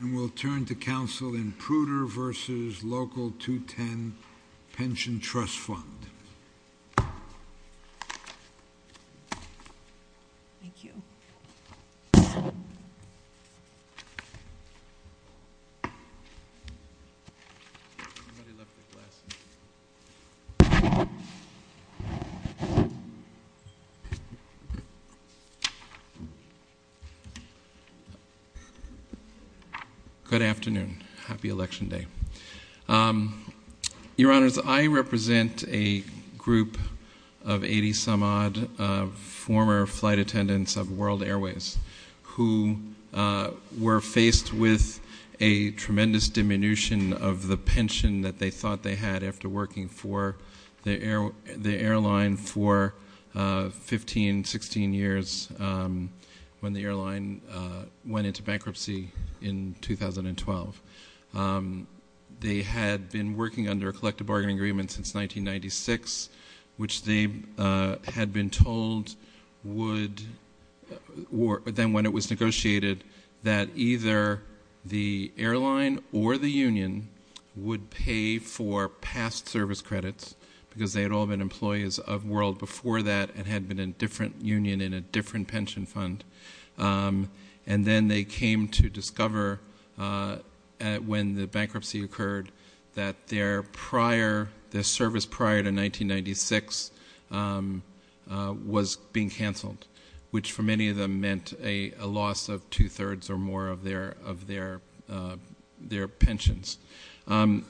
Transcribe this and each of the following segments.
And we'll turn to counsel in Pruter v. Local 210 Pension Trust Fund. Thank you. Somebody left their glasses. Good afternoon. Happy Election Day. Your Honors, I represent a group of 80-some-odd former flight attendants of World Airways who were faced with a tremendous diminution of the pension that they thought they had after working for the airline for 15, 16 years when the airline went into bankruptcy in 2012. They had been working under a collective bargaining agreement since 1996, which they had been told would, then when it was negotiated, that either the airline or the union would pay for past service credits because they had all been employees of World before that and had been in a different union in a different pension fund. And then they came to discover when the bankruptcy occurred that their service prior to 1996 was being canceled, which for many of them meant a loss of two-thirds or more of their pensions. In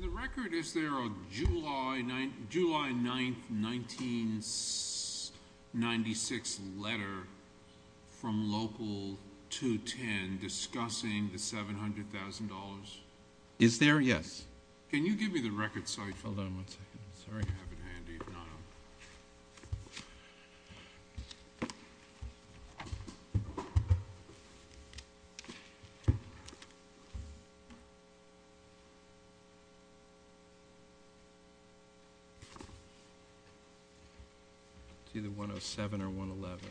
the record, is there a July 9, 1996 letter from Local 210 discussing the $700,000? Is there? Yes. Can you give me the record so I can have it handy? Thank you. It's either 107 or 111.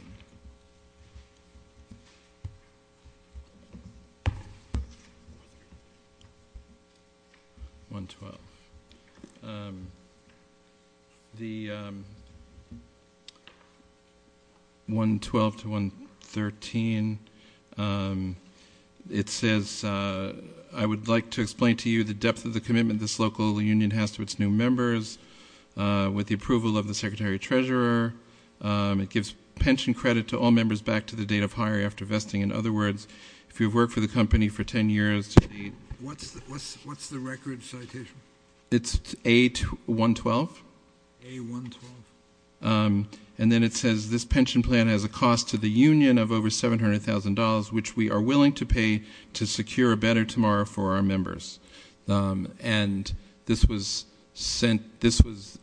112. 112 to 113. It says, I would like to explain to you the depth of the commitment this local union has to its new members with the approval of the Secretary-Treasurer. It gives pension credit to all members back to the date of hire after vesting. In other words, if you've worked for the company for 10 years, What's the record citation? It's A112. A112. And then it says, this pension plan has a cost to the union of over $700,000, which we are willing to pay to secure a better tomorrow for our members. And this was sent, this was,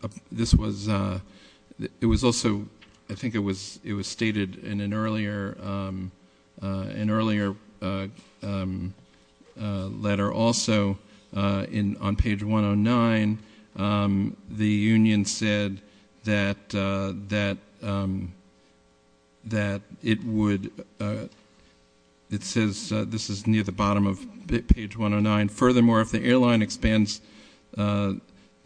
it was also, I think it was stated in an earlier letter. Also, on page 109, the union said that it would, it says, this is near the bottom of page 109. Furthermore, if the airline expands, the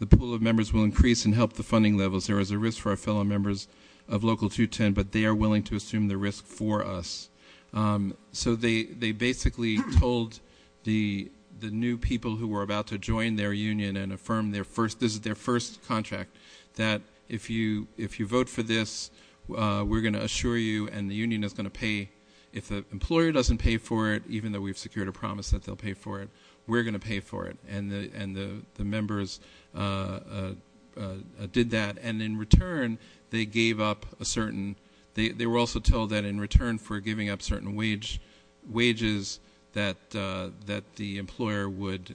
pool of members will increase and help the funding levels. There is a risk for our fellow members of Local 210, but they are willing to assume the risk for us. So they basically told the new people who were about to join their union and affirm their first, this is their first contract, that if you vote for this, we're going to assure you and the union is going to pay. If the employer doesn't pay for it, even though we've secured a promise that they'll pay for it, we're going to pay for it. And the members did that. And in return, they gave up a certain, they were also told that in return for giving up certain wages that the employer would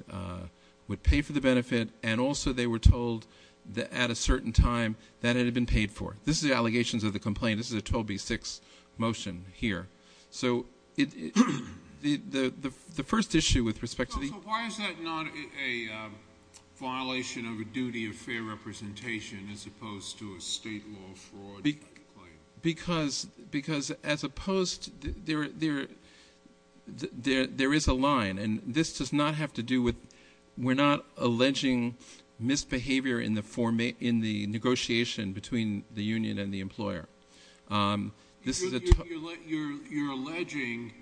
pay for the benefit. And also they were told that at a certain time that it had been paid for. This is the allegations of the complaint. This is a 12B6 motion here. So why is that not a violation of a duty of fair representation as opposed to a state law fraud? Because as opposed, there is a line, and this does not have to do with, we're not alleging misbehavior in the negotiation between the union and the employer. You're alleging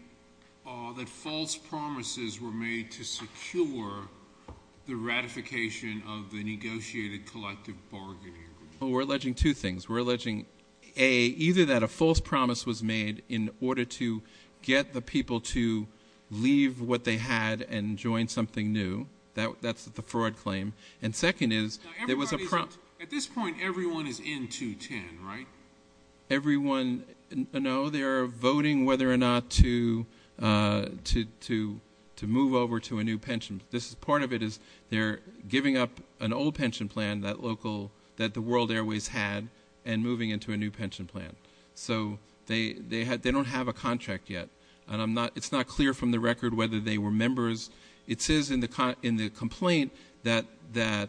that false promises were made to secure the ratification of the negotiated collective bargaining agreement. Well, we're alleging two things. We're alleging, A, either that a false promise was made in order to get the people to leave what they had and join something new. That's the fraud claim. And second is, there was a prompt. At this point, everyone is in 210, right? Everyone, no, they are voting whether or not to move over to a new pension. Part of it is they're giving up an old pension plan that the World Airways had and moving into a new pension plan. So they don't have a contract yet. And it's not clear from the record whether they were members. It says in the complaint that they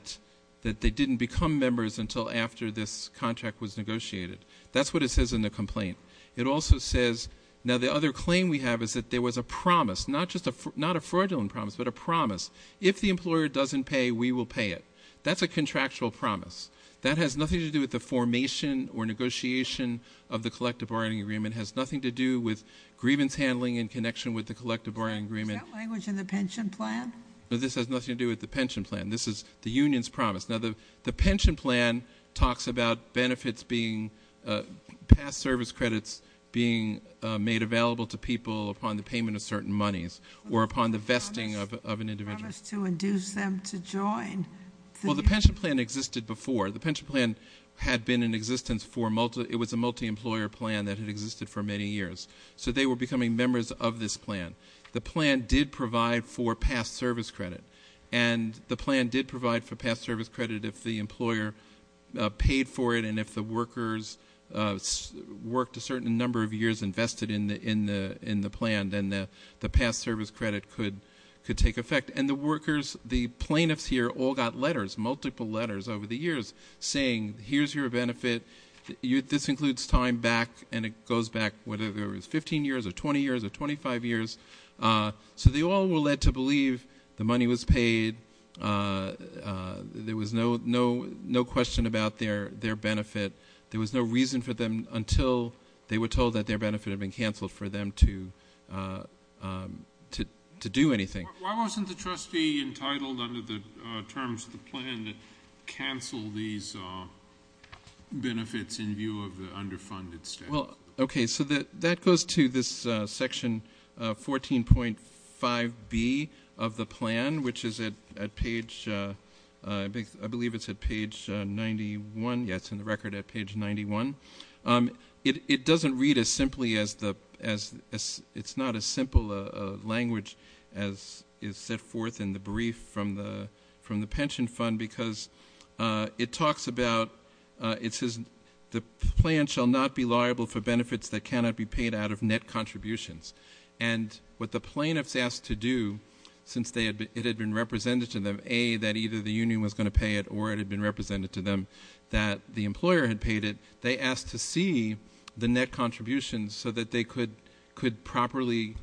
didn't become members until after this contract was negotiated. That's what it says in the complaint. It also says, now the other claim we have is that there was a promise, not a fraudulent promise, but a promise. If the employer doesn't pay, we will pay it. That's a contractual promise. That has nothing to do with the formation or negotiation of the collective bargaining agreement. It has nothing to do with grievance handling in connection with the collective bargaining agreement. Is that language in the pension plan? No, this has nothing to do with the pension plan. This is the union's promise. Now, the pension plan talks about benefits being, past service credits being made available to people upon the payment of certain monies. Or upon the vesting of an individual. A promise to induce them to join the union. Well, the pension plan existed before. The pension plan had been in existence for, it was a multi-employer plan that had existed for many years. So they were becoming members of this plan. The plan did provide for past service credit. And the plan did provide for past service credit if the employer paid for it. And if the workers worked a certain number of years invested in the plan, then the past service credit could take effect. And the workers, the plaintiffs here, all got letters, multiple letters over the years saying, here's your benefit. This includes time back, and it goes back, whatever it was, 15 years or 20 years or 25 years. So they all were led to believe the money was paid. There was no question about their benefit. There was no reason for them until they were told that their benefit had been canceled for them to do anything. Why wasn't the trustee entitled under the terms of the plan to cancel these benefits in view of the underfunded status? Well, okay, so that goes to this section 14.5B of the plan, which is at page, I believe it's at page 91. Yeah, it's in the record at page 91. It doesn't read as simply as the, it's not as simple a language as is set forth in the brief from the pension fund, because it talks about, it says the plan shall not be liable for benefits that cannot be paid out of net contributions. And what the plaintiffs asked to do, since it had been represented to them, A, that either the union was going to pay it or it had been represented to them that the employer had paid it, they asked to see the net contributions so that they could properly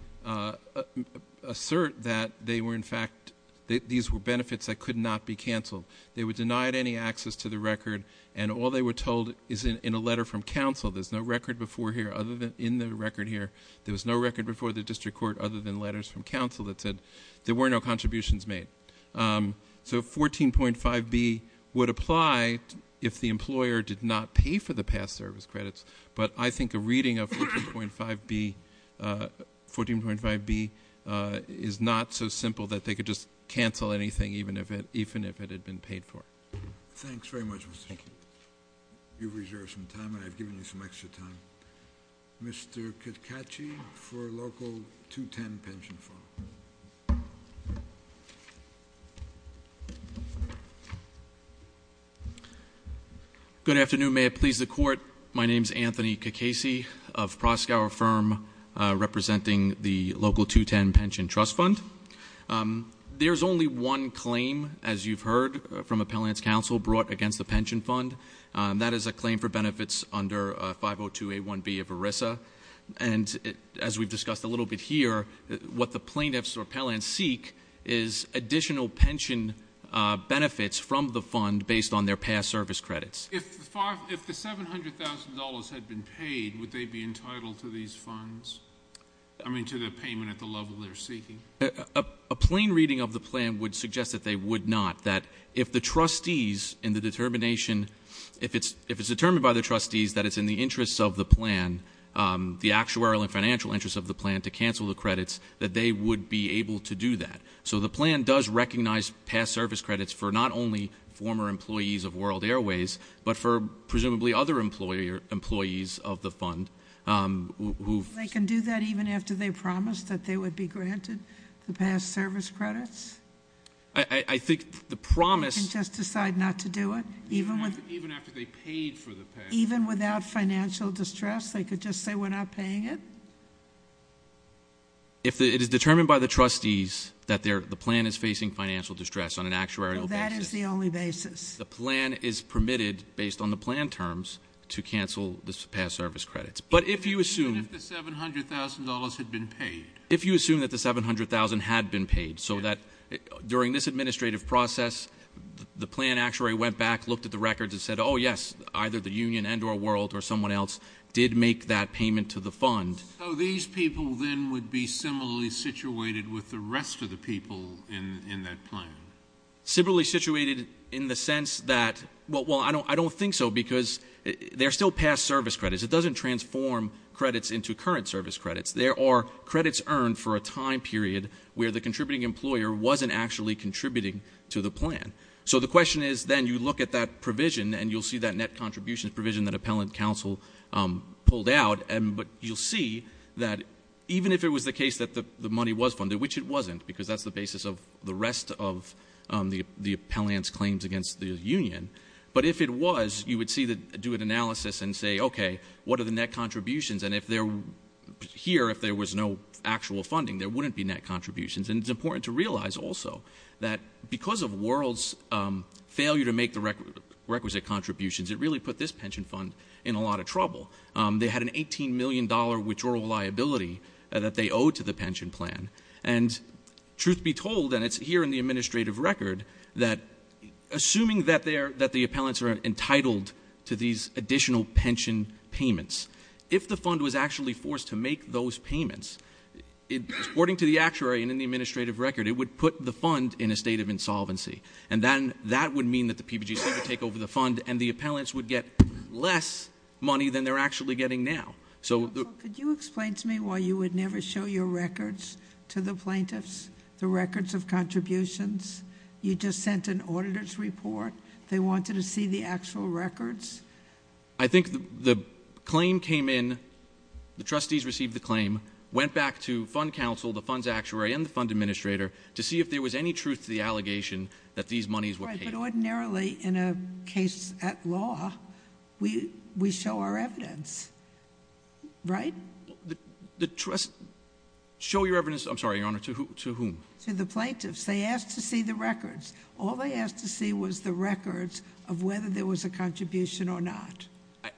assert that they were in fact, that these were benefits that could not be canceled. They were denied any access to the record, and all they were told is in a letter from counsel. There's no record before here other than in the record here. There was no record before the district court other than letters from counsel that said there were no contributions made. So 14.5B would apply if the employer did not pay for the past service credits, but I think a reading of 14.5B is not so simple that they could just cancel anything even if it had been paid for. Thanks very much, Mr. Chairman. Thank you. You've reserved some time, and I've given you some extra time. Mr. Caccacci for Local 210 Pension Fund. Good afternoon. May it please the court. My name's Anthony Caccacci of Proskauer Firm, representing the Local 210 Pension Trust Fund. There's only one claim, as you've heard from appellants counsel, brought against the pension fund. That is a claim for benefits under 502A1B of ERISA, and as we've discussed a little bit here, what the plaintiffs or appellants seek is additional pension benefits from the fund based on their past service credits. If the $700,000 had been paid, would they be entitled to these funds, I mean to the payment at the level they're seeking? A plain reading of the plan would suggest that they would not, that if the trustees in the determination, if it's determined by the trustees that it's in the interests of the plan, the actuarial and financial interests of the plan to cancel the credits, that they would be able to do that. So the plan does recognize past service credits for not only former employees of World Airways, but for presumably other employees of the fund who- They can do that even after they promised that they would be granted the past service credits? I think the promise- They can just decide not to do it? Even after they paid for the past- Even without financial distress? They could just say we're not paying it? If it is determined by the trustees that the plan is facing financial distress on an actuarial basis- That is the only basis. The plan is permitted, based on the plan terms, to cancel the past service credits. But if you assume- Even if the $700,000 had been paid? If you assume that the $700,000 had been paid, so that during this administrative process, the plan actuary went back, looked at the records, and said, oh, yes, either the union and or World or someone else did make that payment to the fund- So these people then would be similarly situated with the rest of the people in that plan? Similarly situated in the sense that, well, I don't think so, because they're still past service credits. It doesn't transform credits into current service credits. There are credits earned for a time period where the contributing employer wasn't actually contributing to the plan. So the question is, then you look at that provision, and you'll see that net contribution provision that appellant counsel pulled out, but you'll see that even if it was the case that the money was funded, which it wasn't, because that's the basis of the rest of the appellant's claims against the union, but if it was, you would do an analysis and say, okay, what are the net contributions? And here, if there was no actual funding, there wouldn't be net contributions. And it's important to realize also that because of World's failure to make the requisite contributions, it really put this pension fund in a lot of trouble. They had an $18 million withdrawal liability that they owed to the pension plan. And truth be told, and it's here in the administrative record, that assuming that the appellants are entitled to these additional pension payments, if the fund was actually forced to make those payments, according to the actuary and in the administrative record, it would put the fund in a state of insolvency. And then that would mean that the PBGC would take over the fund, and the appellants would get less money than they're actually getting now. Counsel, could you explain to me why you would never show your records to the plaintiffs, the records of contributions? You just sent an auditor's report. They wanted to see the actual records? I think the claim came in, the trustees received the claim, went back to fund counsel, the funds actuary, and the fund administrator to see if there was any truth to the allegation that these monies were paid. But ordinarily, in a case at law, we show our evidence, right? The trust, show your evidence, I'm sorry, Your Honor, to whom? To the plaintiffs. They asked to see the records. All they asked to see was the records of whether there was a contribution or not.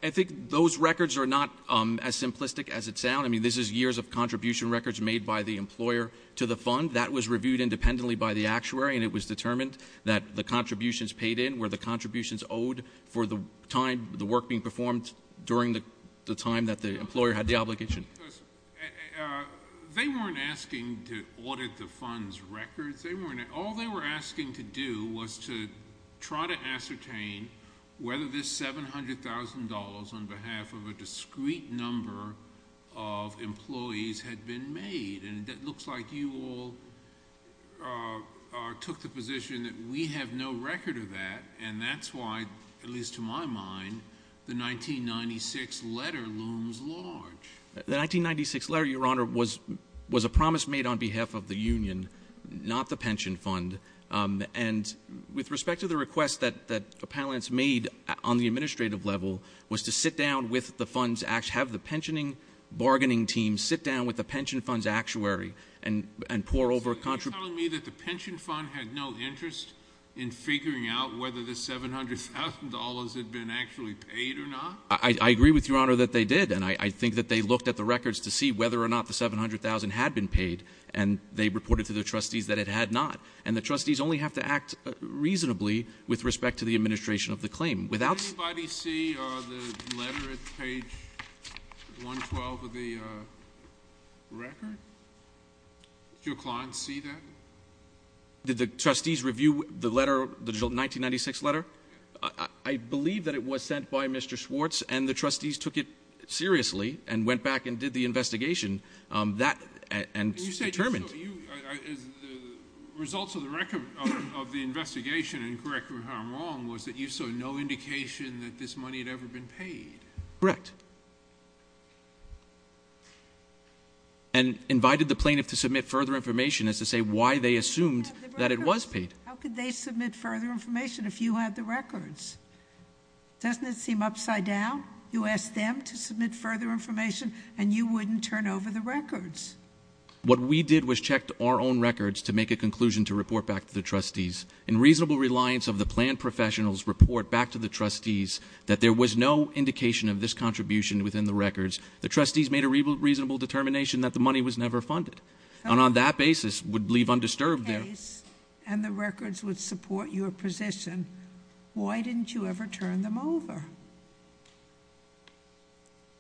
I think those records are not as simplistic as it sounds. I mean, this is years of contribution records made by the employer to the fund. That was reviewed independently by the actuary, and it was determined that the contributions paid in were the contributions owed for the time, the work being performed during the time that the employer had the obligation. They weren't asking to audit the fund's records. All they were asking to do was to try to ascertain whether this $700,000 on behalf of a discrete number of employees had been made. And it looks like you all took the position that we have no record of that, and that's why, at least to my mind, the 1996 letter looms large. The 1996 letter, Your Honor, was a promise made on behalf of the union, not the pension fund. And with respect to the request that appellants made on the administrative level was to sit down with the funds, have the pensioning bargaining team sit down with the pension fund's actuary and pour over a contribution. So you're telling me that the pension fund had no interest in figuring out whether the $700,000 had been actually paid or not? I agree with you, Your Honor, that they did. And I think that they looked at the records to see whether or not the $700,000 had been paid, and they reported to their trustees that it had not. And the trustees only have to act reasonably with respect to the administration of the claim. Did anybody see the letter at page 112 of the record? Did your clients see that? Did the trustees review the letter, the 1996 letter? I believe that it was sent by Mr. Schwartz, and the trustees took it seriously and went back and did the investigation and determined. So the results of the investigation, and correct me if I'm wrong, was that you saw no indication that this money had ever been paid? Correct. And invited the plaintiff to submit further information as to say why they assumed that it was paid. How could they submit further information if you had the records? Doesn't it seem upside down? You asked them to submit further information, and you wouldn't turn over the records. What we did was check our own records to make a conclusion to report back to the trustees. In reasonable reliance of the planned professional's report back to the trustees that there was no indication of this contribution within the records, the trustees made a reasonable determination that the money was never funded, and on that basis would leave undisturbed their case. And the records would support your position. Why didn't you ever turn them over?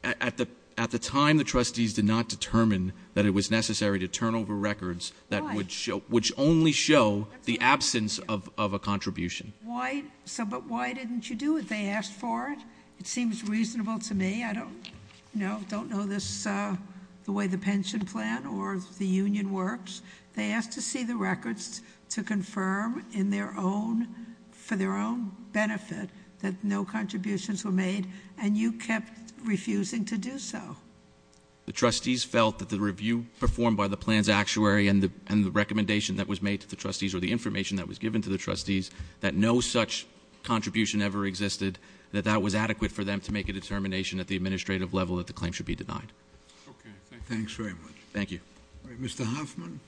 At the time, the trustees did not determine that it was necessary to turn over records which only show the absence of a contribution. But why didn't you do it? They asked for it. It seems reasonable to me. I don't know this, the way the pension plan or the union works. They asked to see the records to confirm for their own benefit that no contributions were made, and you kept refusing to do so. The trustees felt that the review performed by the plans actuary and the recommendation that was made to the trustees or the information that was given to the trustees that no such contribution ever existed, that that was adequate for them to make a determination at the administrative level that the claim should be denied. Okay, thanks very much. Thank you. All right, Mr. Hoffman.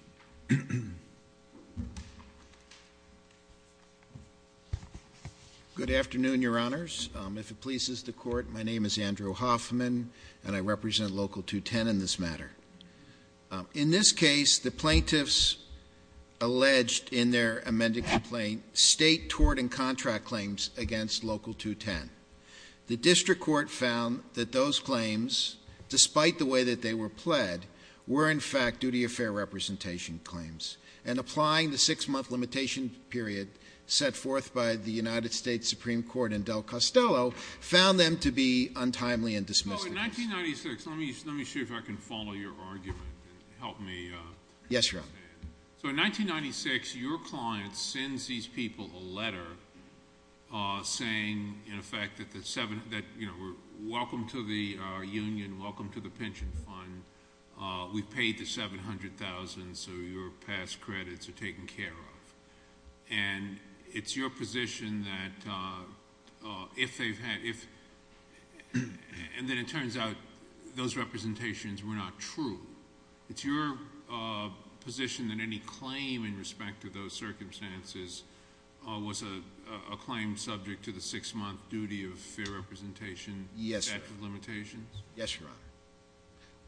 Good afternoon, Your Honors. If it pleases the court, my name is Andrew Hoffman, and I represent Local 210 in this matter. In this case, the plaintiffs alleged in their amended complaint state tort and contract claims against Local 210. The district court found that those claims, despite the way that they were pled, were in fact duty of fair representation claims. And applying the six-month limitation period set forth by the United States Supreme Court and Del Costello, found them to be untimely and dismissive. So in 1996, let me see if I can follow your argument and help me understand. Yes, Your Honor. So in 1996, your client sends these people a letter saying, in effect, that, you know, welcome to the union, welcome to the pension fund. We've paid the $700,000, so your past credits are taken care of. And it's your position that if they've had – and then it turns out those representations were not true. It's your position that any claim in respect to those circumstances was a claim subject to the six-month duty of fair representation? Yes, Your Honor. Limited limitations? Yes, Your Honor.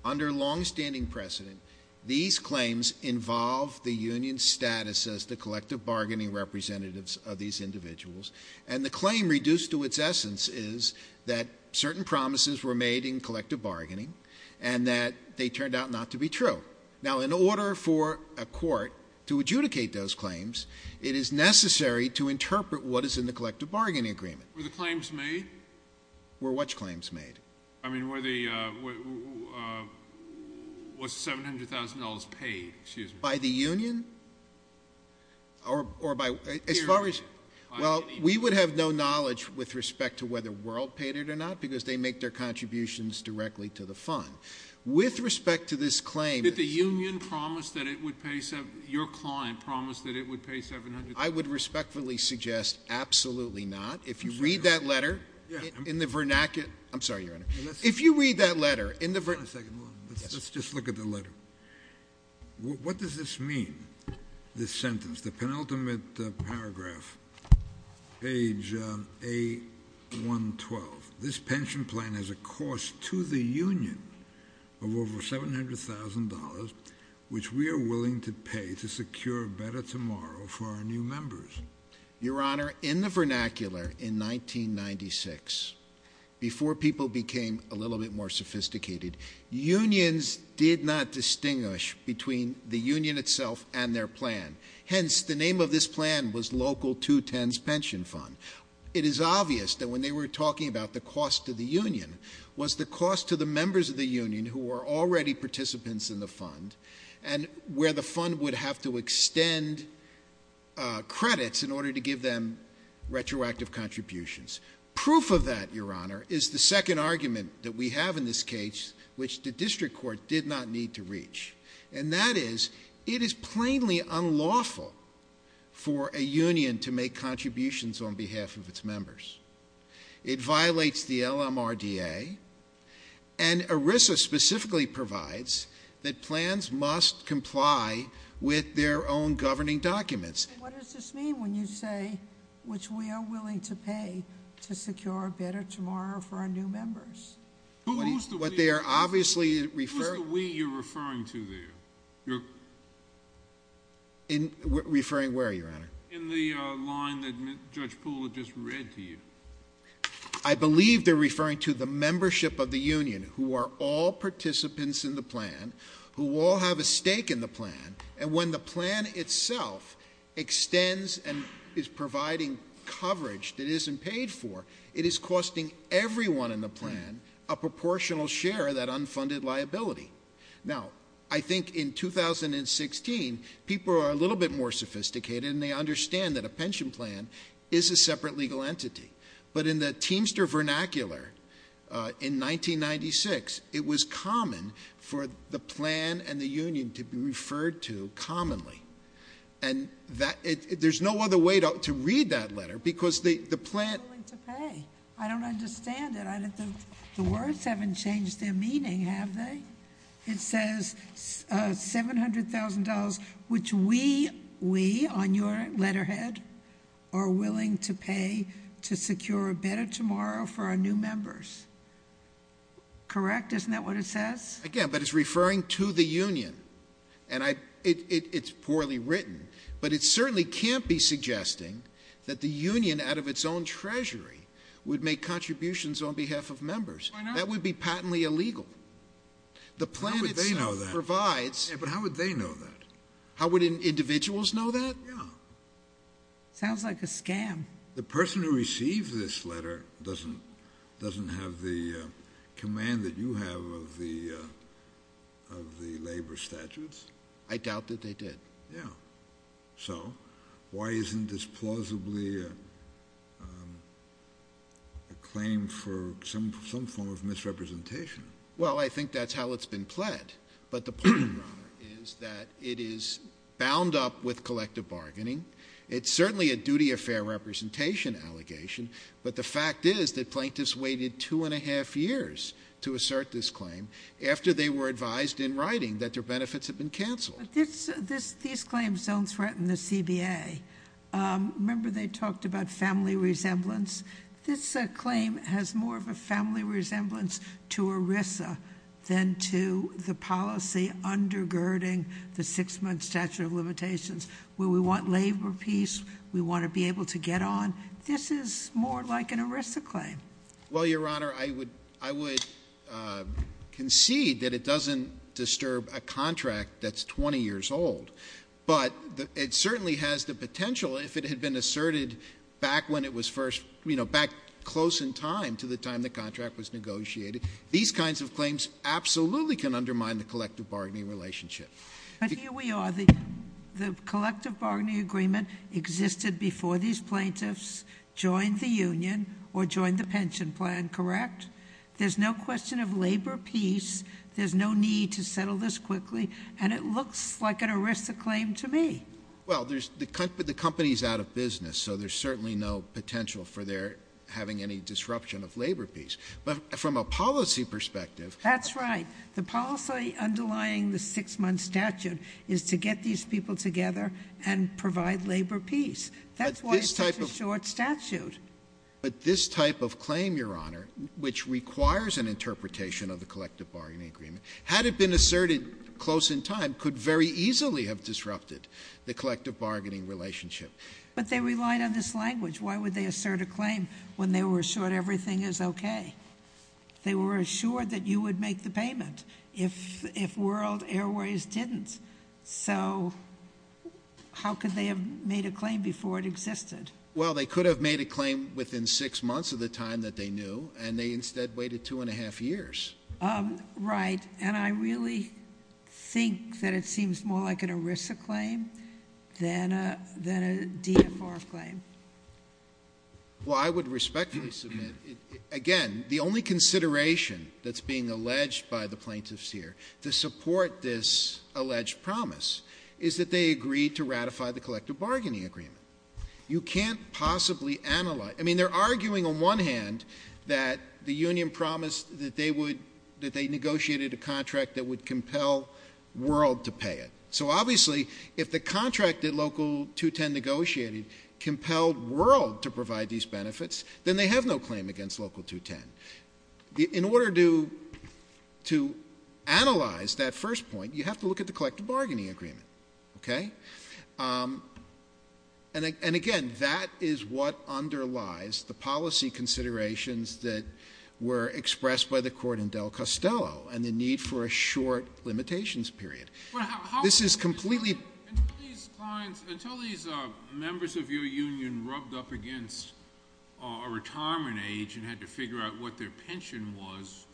Under longstanding precedent, these claims involve the union's status as the collective bargaining representatives of these individuals. And the claim reduced to its essence is that certain promises were made in collective bargaining and that they turned out not to be true. Now, in order for a court to adjudicate those claims, it is necessary to interpret what is in the collective bargaining agreement. Were the claims made? Were which claims made? I mean, were the – was $700,000 paid, excuse me? By the union? Or by – as far as – Well, we would have no knowledge with respect to whether World paid it or not because they make their contributions directly to the fund. With respect to this claim – Did the union promise that it would pay – your client promised that it would pay $700,000? I would respectfully suggest absolutely not. If you read that letter in the vernacular – I'm sorry, Your Honor. If you read that letter in the – Hold on a second. Let's just look at the letter. What does this mean, this sentence, the penultimate paragraph, page A112? This pension plan has a cost to the union of over $700,000, which we are willing to pay to secure a better tomorrow for our new members. Your Honor, in the vernacular in 1996, before people became a little bit more sophisticated, unions did not distinguish between the union itself and their plan. Hence, the name of this plan was Local 210's Pension Fund. It is obvious that when they were talking about the cost to the union, was the cost to the members of the union who were already participants in the fund and where the fund would have to extend credits in order to give them retroactive contributions. Proof of that, Your Honor, is the second argument that we have in this case, and that is it is plainly unlawful for a union to make contributions on behalf of its members. It violates the LMRDA, and ERISA specifically provides that plans must comply with their own governing documents. What does this mean when you say, which we are willing to pay to secure a better tomorrow for our new members? Who is the we you're referring to? Referring where, Your Honor? In the line that Judge Poole just read to you. I believe they're referring to the membership of the union who are all participants in the plan, who all have a stake in the plan, and when the plan itself extends and is providing coverage that isn't paid for, it is costing everyone in the plan a proportional share of that unfunded liability. Now, I think in 2016, people are a little bit more sophisticated, and they understand that a pension plan is a separate legal entity, but in the Teamster vernacular in 1996, it was common for the plan and the union to be referred to commonly, and there's no other way to read that letter because the plan- It says $700,000, which we, on your letterhead, are willing to pay to secure a better tomorrow for our new members. Correct? Isn't that what it says? Again, but it's referring to the union, and it's poorly written, but it certainly can't be suggesting that the union, out of its own treasury, would make contributions on behalf of members. Why not? That would be patently illegal. How would they know that? The plan itself provides- Yeah, but how would they know that? How would individuals know that? Yeah. Sounds like a scam. The person who received this letter doesn't have the command that you have of the labor statutes? I doubt that they did. Yeah. So why isn't this plausibly a claim for some form of misrepresentation? Well, I think that's how it's been pled, but the point, Your Honor, is that it is bound up with collective bargaining. It's certainly a duty of fair representation allegation, but the fact is that plaintiffs waited two and a half years to assert this claim after they were advised in writing that their benefits had been canceled. These claims don't threaten the CBA. Remember they talked about family resemblance? This claim has more of a family resemblance to ERISA than to the policy undergirding the six-month statute of limitations where we want labor peace, we want to be able to get on. This is more like an ERISA claim. Well, Your Honor, I would concede that it doesn't disturb a contract that's 20 years old, but it certainly has the potential if it had been asserted back when it was first, you know, back close in time to the time the contract was negotiated. These kinds of claims absolutely can undermine the collective bargaining relationship. But here we are. The collective bargaining agreement existed before these plaintiffs joined the union or joined the pension plan, correct? There's no question of labor peace, there's no need to settle this quickly, and it looks like an ERISA claim to me. Well, the company's out of business, so there's certainly no potential for their having any disruption of labor peace. But from a policy perspective. That's right. The policy underlying the six-month statute is to get these people together and provide labor peace. That's why it's such a short statute. But this type of claim, Your Honor, which requires an interpretation of the collective bargaining agreement, had it been asserted close in time, could very easily have disrupted the collective bargaining relationship. But they relied on this language. Why would they assert a claim when they were assured everything is okay? They were assured that you would make the payment if World Airways didn't. So how could they have made a claim before it existed? Well, they could have made a claim within six months of the time that they knew, and they instead waited two and a half years. Right. And I really think that it seems more like an ERISA claim than a DFR claim. Well, I would respectfully submit, again, the only consideration that's being alleged by the plaintiffs here to support this alleged promise is that they agreed to ratify the collective bargaining agreement. You can't possibly analyze. I mean, they're arguing on one hand that the union promised that they negotiated a contract that would compel World to pay it. So obviously, if the contract that Local 210 negotiated compelled World to provide these benefits, then they have no claim against Local 210. In order to analyze that first point, you have to look at the collective bargaining agreement. Okay? And, again, that is what underlies the policy considerations that were expressed by the court in Del Costello and the need for a short limitations period. This is completely... Until these members of your union rubbed up against a retirement age and had to figure out what their pension was,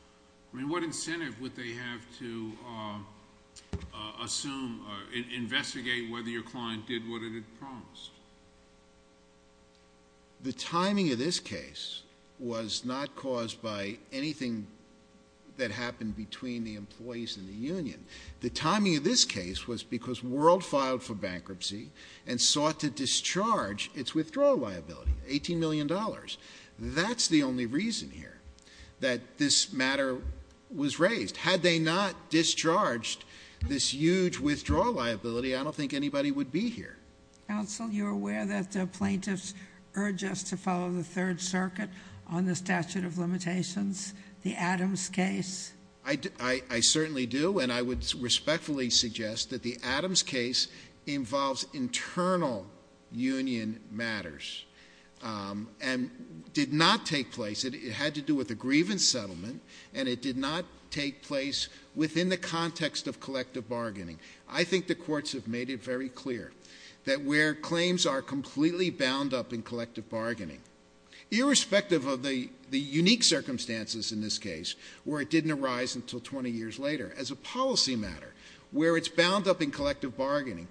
I mean, what incentive would they have to assume or investigate whether your client did what it had promised? The timing of this case was not caused by anything that happened between the employees and the union. The timing of this case was because World filed for bankruptcy and sought to discharge its withdrawal liability, $18 million. That's the only reason here that this matter was raised. Had they not discharged this huge withdrawal liability, I don't think anybody would be here. Counsel, you're aware that plaintiffs urge us to follow the Third Circuit on the statute of limitations? The Adams case? I certainly do, and I would respectfully suggest that the Adams case involves internal union matters. And did not take place... It had to do with a grievance settlement, and it did not take place within the context of collective bargaining. I think the courts have made it very clear that where claims are completely bound up in collective bargaining, irrespective of the unique circumstances in this case, where it didn't arise until 20 years later, as a policy matter, where it's bound up in collective bargaining,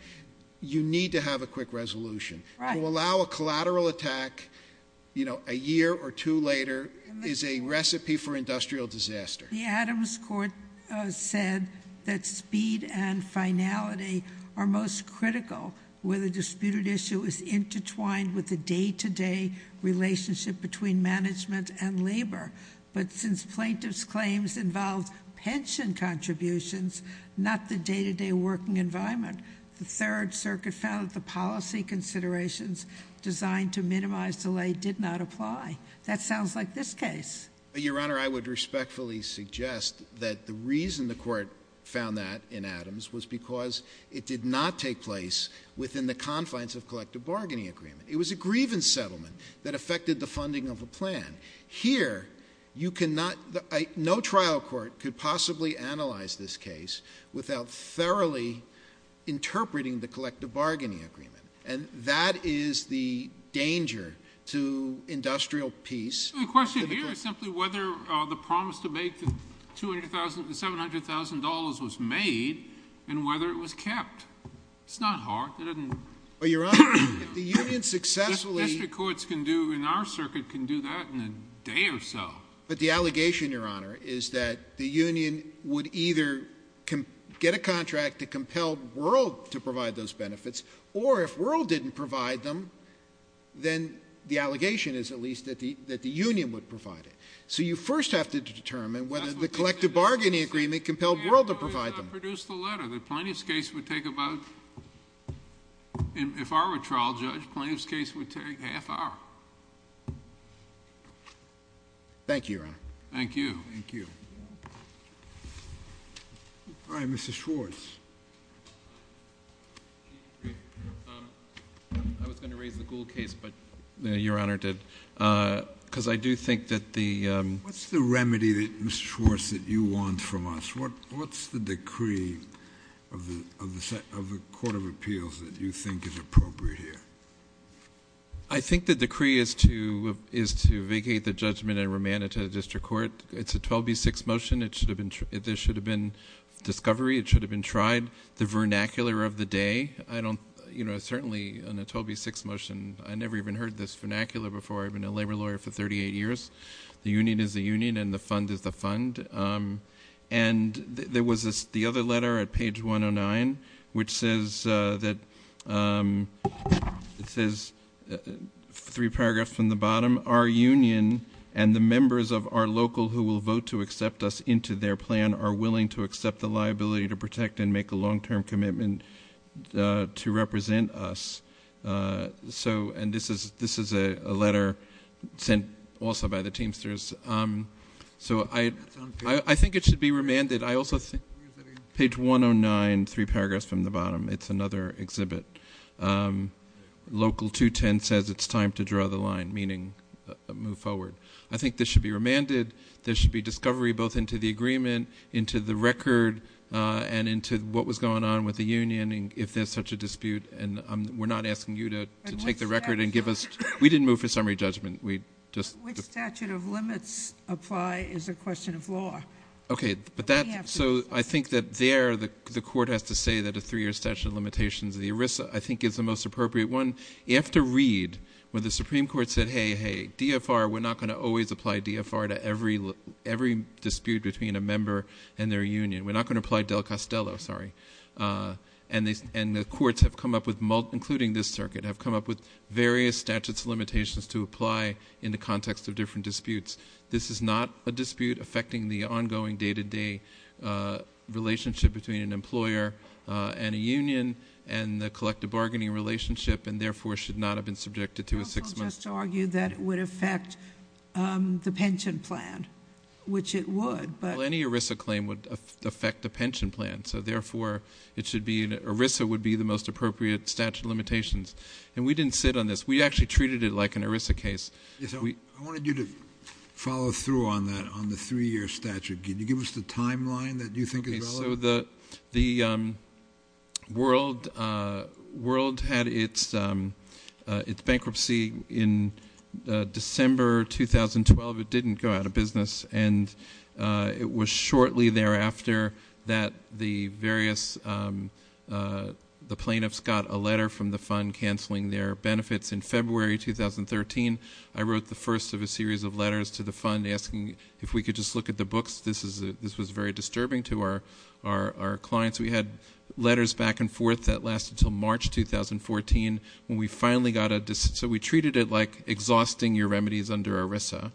you need to have a quick resolution. To allow a collateral attack a year or two later is a recipe for industrial disaster. The Adams court said that speed and finality are most critical where the disputed issue is intertwined with the day-to-day relationship between management and labor. But since plaintiffs' claims involved pension contributions, not the day-to-day working environment, the Third Circuit found that the policy considerations designed to minimize delay did not apply. That sounds like this case. Your Honor, I would respectfully suggest that the reason the court found that in Adams was because it did not take place within the confines of collective bargaining agreement. It was a grievance settlement that affected the funding of a plan. Here, no trial court could possibly analyze this case without thoroughly interpreting the collective bargaining agreement. And that is the danger to industrial peace. The question here is simply whether the promise to make the $700,000 was made and whether it was kept. It's not hard. Well, Your Honor, if the union successfully... District courts can do, in our circuit, can do that in a day or so. But the allegation, Your Honor, is that the union would either get a contract that compelled World to provide those benefits, or if World didn't provide them, then the allegation is at least that the union would provide it. So you first have to determine whether the collective bargaining agreement compelled World to provide them. I produce the letter. The plaintiff's case would take about... If I were trial judge, plaintiff's case would take half hour. Thank you, Your Honor. Thank you. All right, Mr. Schwartz. I was going to raise the Gould case, but Your Honor did. Because I do think that the... What's the remedy, Mr. Schwartz, that you want from us? What's the decree of the Court of Appeals that you think is appropriate here? I think the decree is to vacate the judgment and remand it to the district court. It's a 12B6 motion. There should have been discovery. It should have been tried. The vernacular of the day, I don't... You know, certainly on a 12B6 motion, I never even heard this vernacular before. I've been a labor lawyer for 38 years. The union is the union, and the fund is the fund. And there was the other letter at page 109, which says that... It says three paragraphs from the bottom. Our union and the members of our local who will vote to accept us into their plan are willing to accept the liability to protect and make a long-term commitment to represent us. And this is a letter sent also by the Teamsters. So I think it should be remanded. I also think page 109, three paragraphs from the bottom. It's another exhibit. Local 210 says it's time to draw the line, meaning move forward. I think this should be remanded. There should be discovery both into the agreement, into the record, and into what was going on with the union if there's such a dispute. And we're not asking you to take the record and give us... We didn't move for summary judgment. Which statute of limits apply is a question of law. Okay, so I think that there the court has to say that a three-year statute of limitations of the ERISA, I think, is the most appropriate one. You have to read when the Supreme Court said, hey, hey, DFR, we're not going to always apply DFR to every dispute between a member and their union. We're not going to apply Del Castello, sorry. And the courts have come up with, including this circuit, have come up with various statutes of limitations to apply in the context of different disputes. This is not a dispute affecting the ongoing day-to-day relationship between an employer and a union and the collective bargaining relationship, and therefore should not have been subjected to a six-month... Also just to argue that it would affect the pension plan, which it would, but... Well, any ERISA claim would affect the pension plan. So, therefore, ERISA would be the most appropriate statute of limitations. And we didn't sit on this. We actually treated it like an ERISA case. I wanted you to follow through on that, on the three-year statute. Can you give us the timeline that you think is relevant? Okay, so the world had its bankruptcy in December 2012. It didn't go out of business. And it was shortly thereafter that the various plaintiffs got a letter from the fund canceling their benefits in February 2013. I wrote the first of a series of letters to the fund asking if we could just look at the books. This was very disturbing to our clients. We had letters back and forth. That lasted until March 2014 when we finally got a decision. So we treated it like exhausting your remedies under ERISA,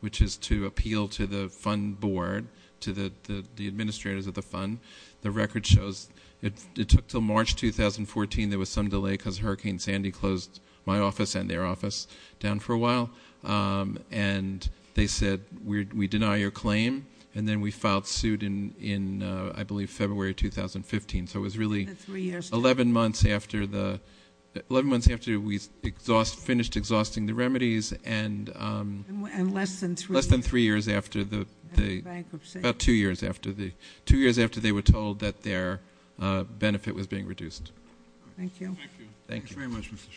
which is to appeal to the fund board, to the administrators of the fund. The record shows it took until March 2014. There was some delay because Hurricane Sandy closed my office and their office down for a while. And they said, we deny your claim. And then we filed suit in, I believe, February 2015. So it was really 11 months after we finished exhausting the remedies. And less than three years after the bankruptcy. About two years after they were told that their benefit was being reduced. Thank you. Thank you. Thank you very much, Mr. Schwartz.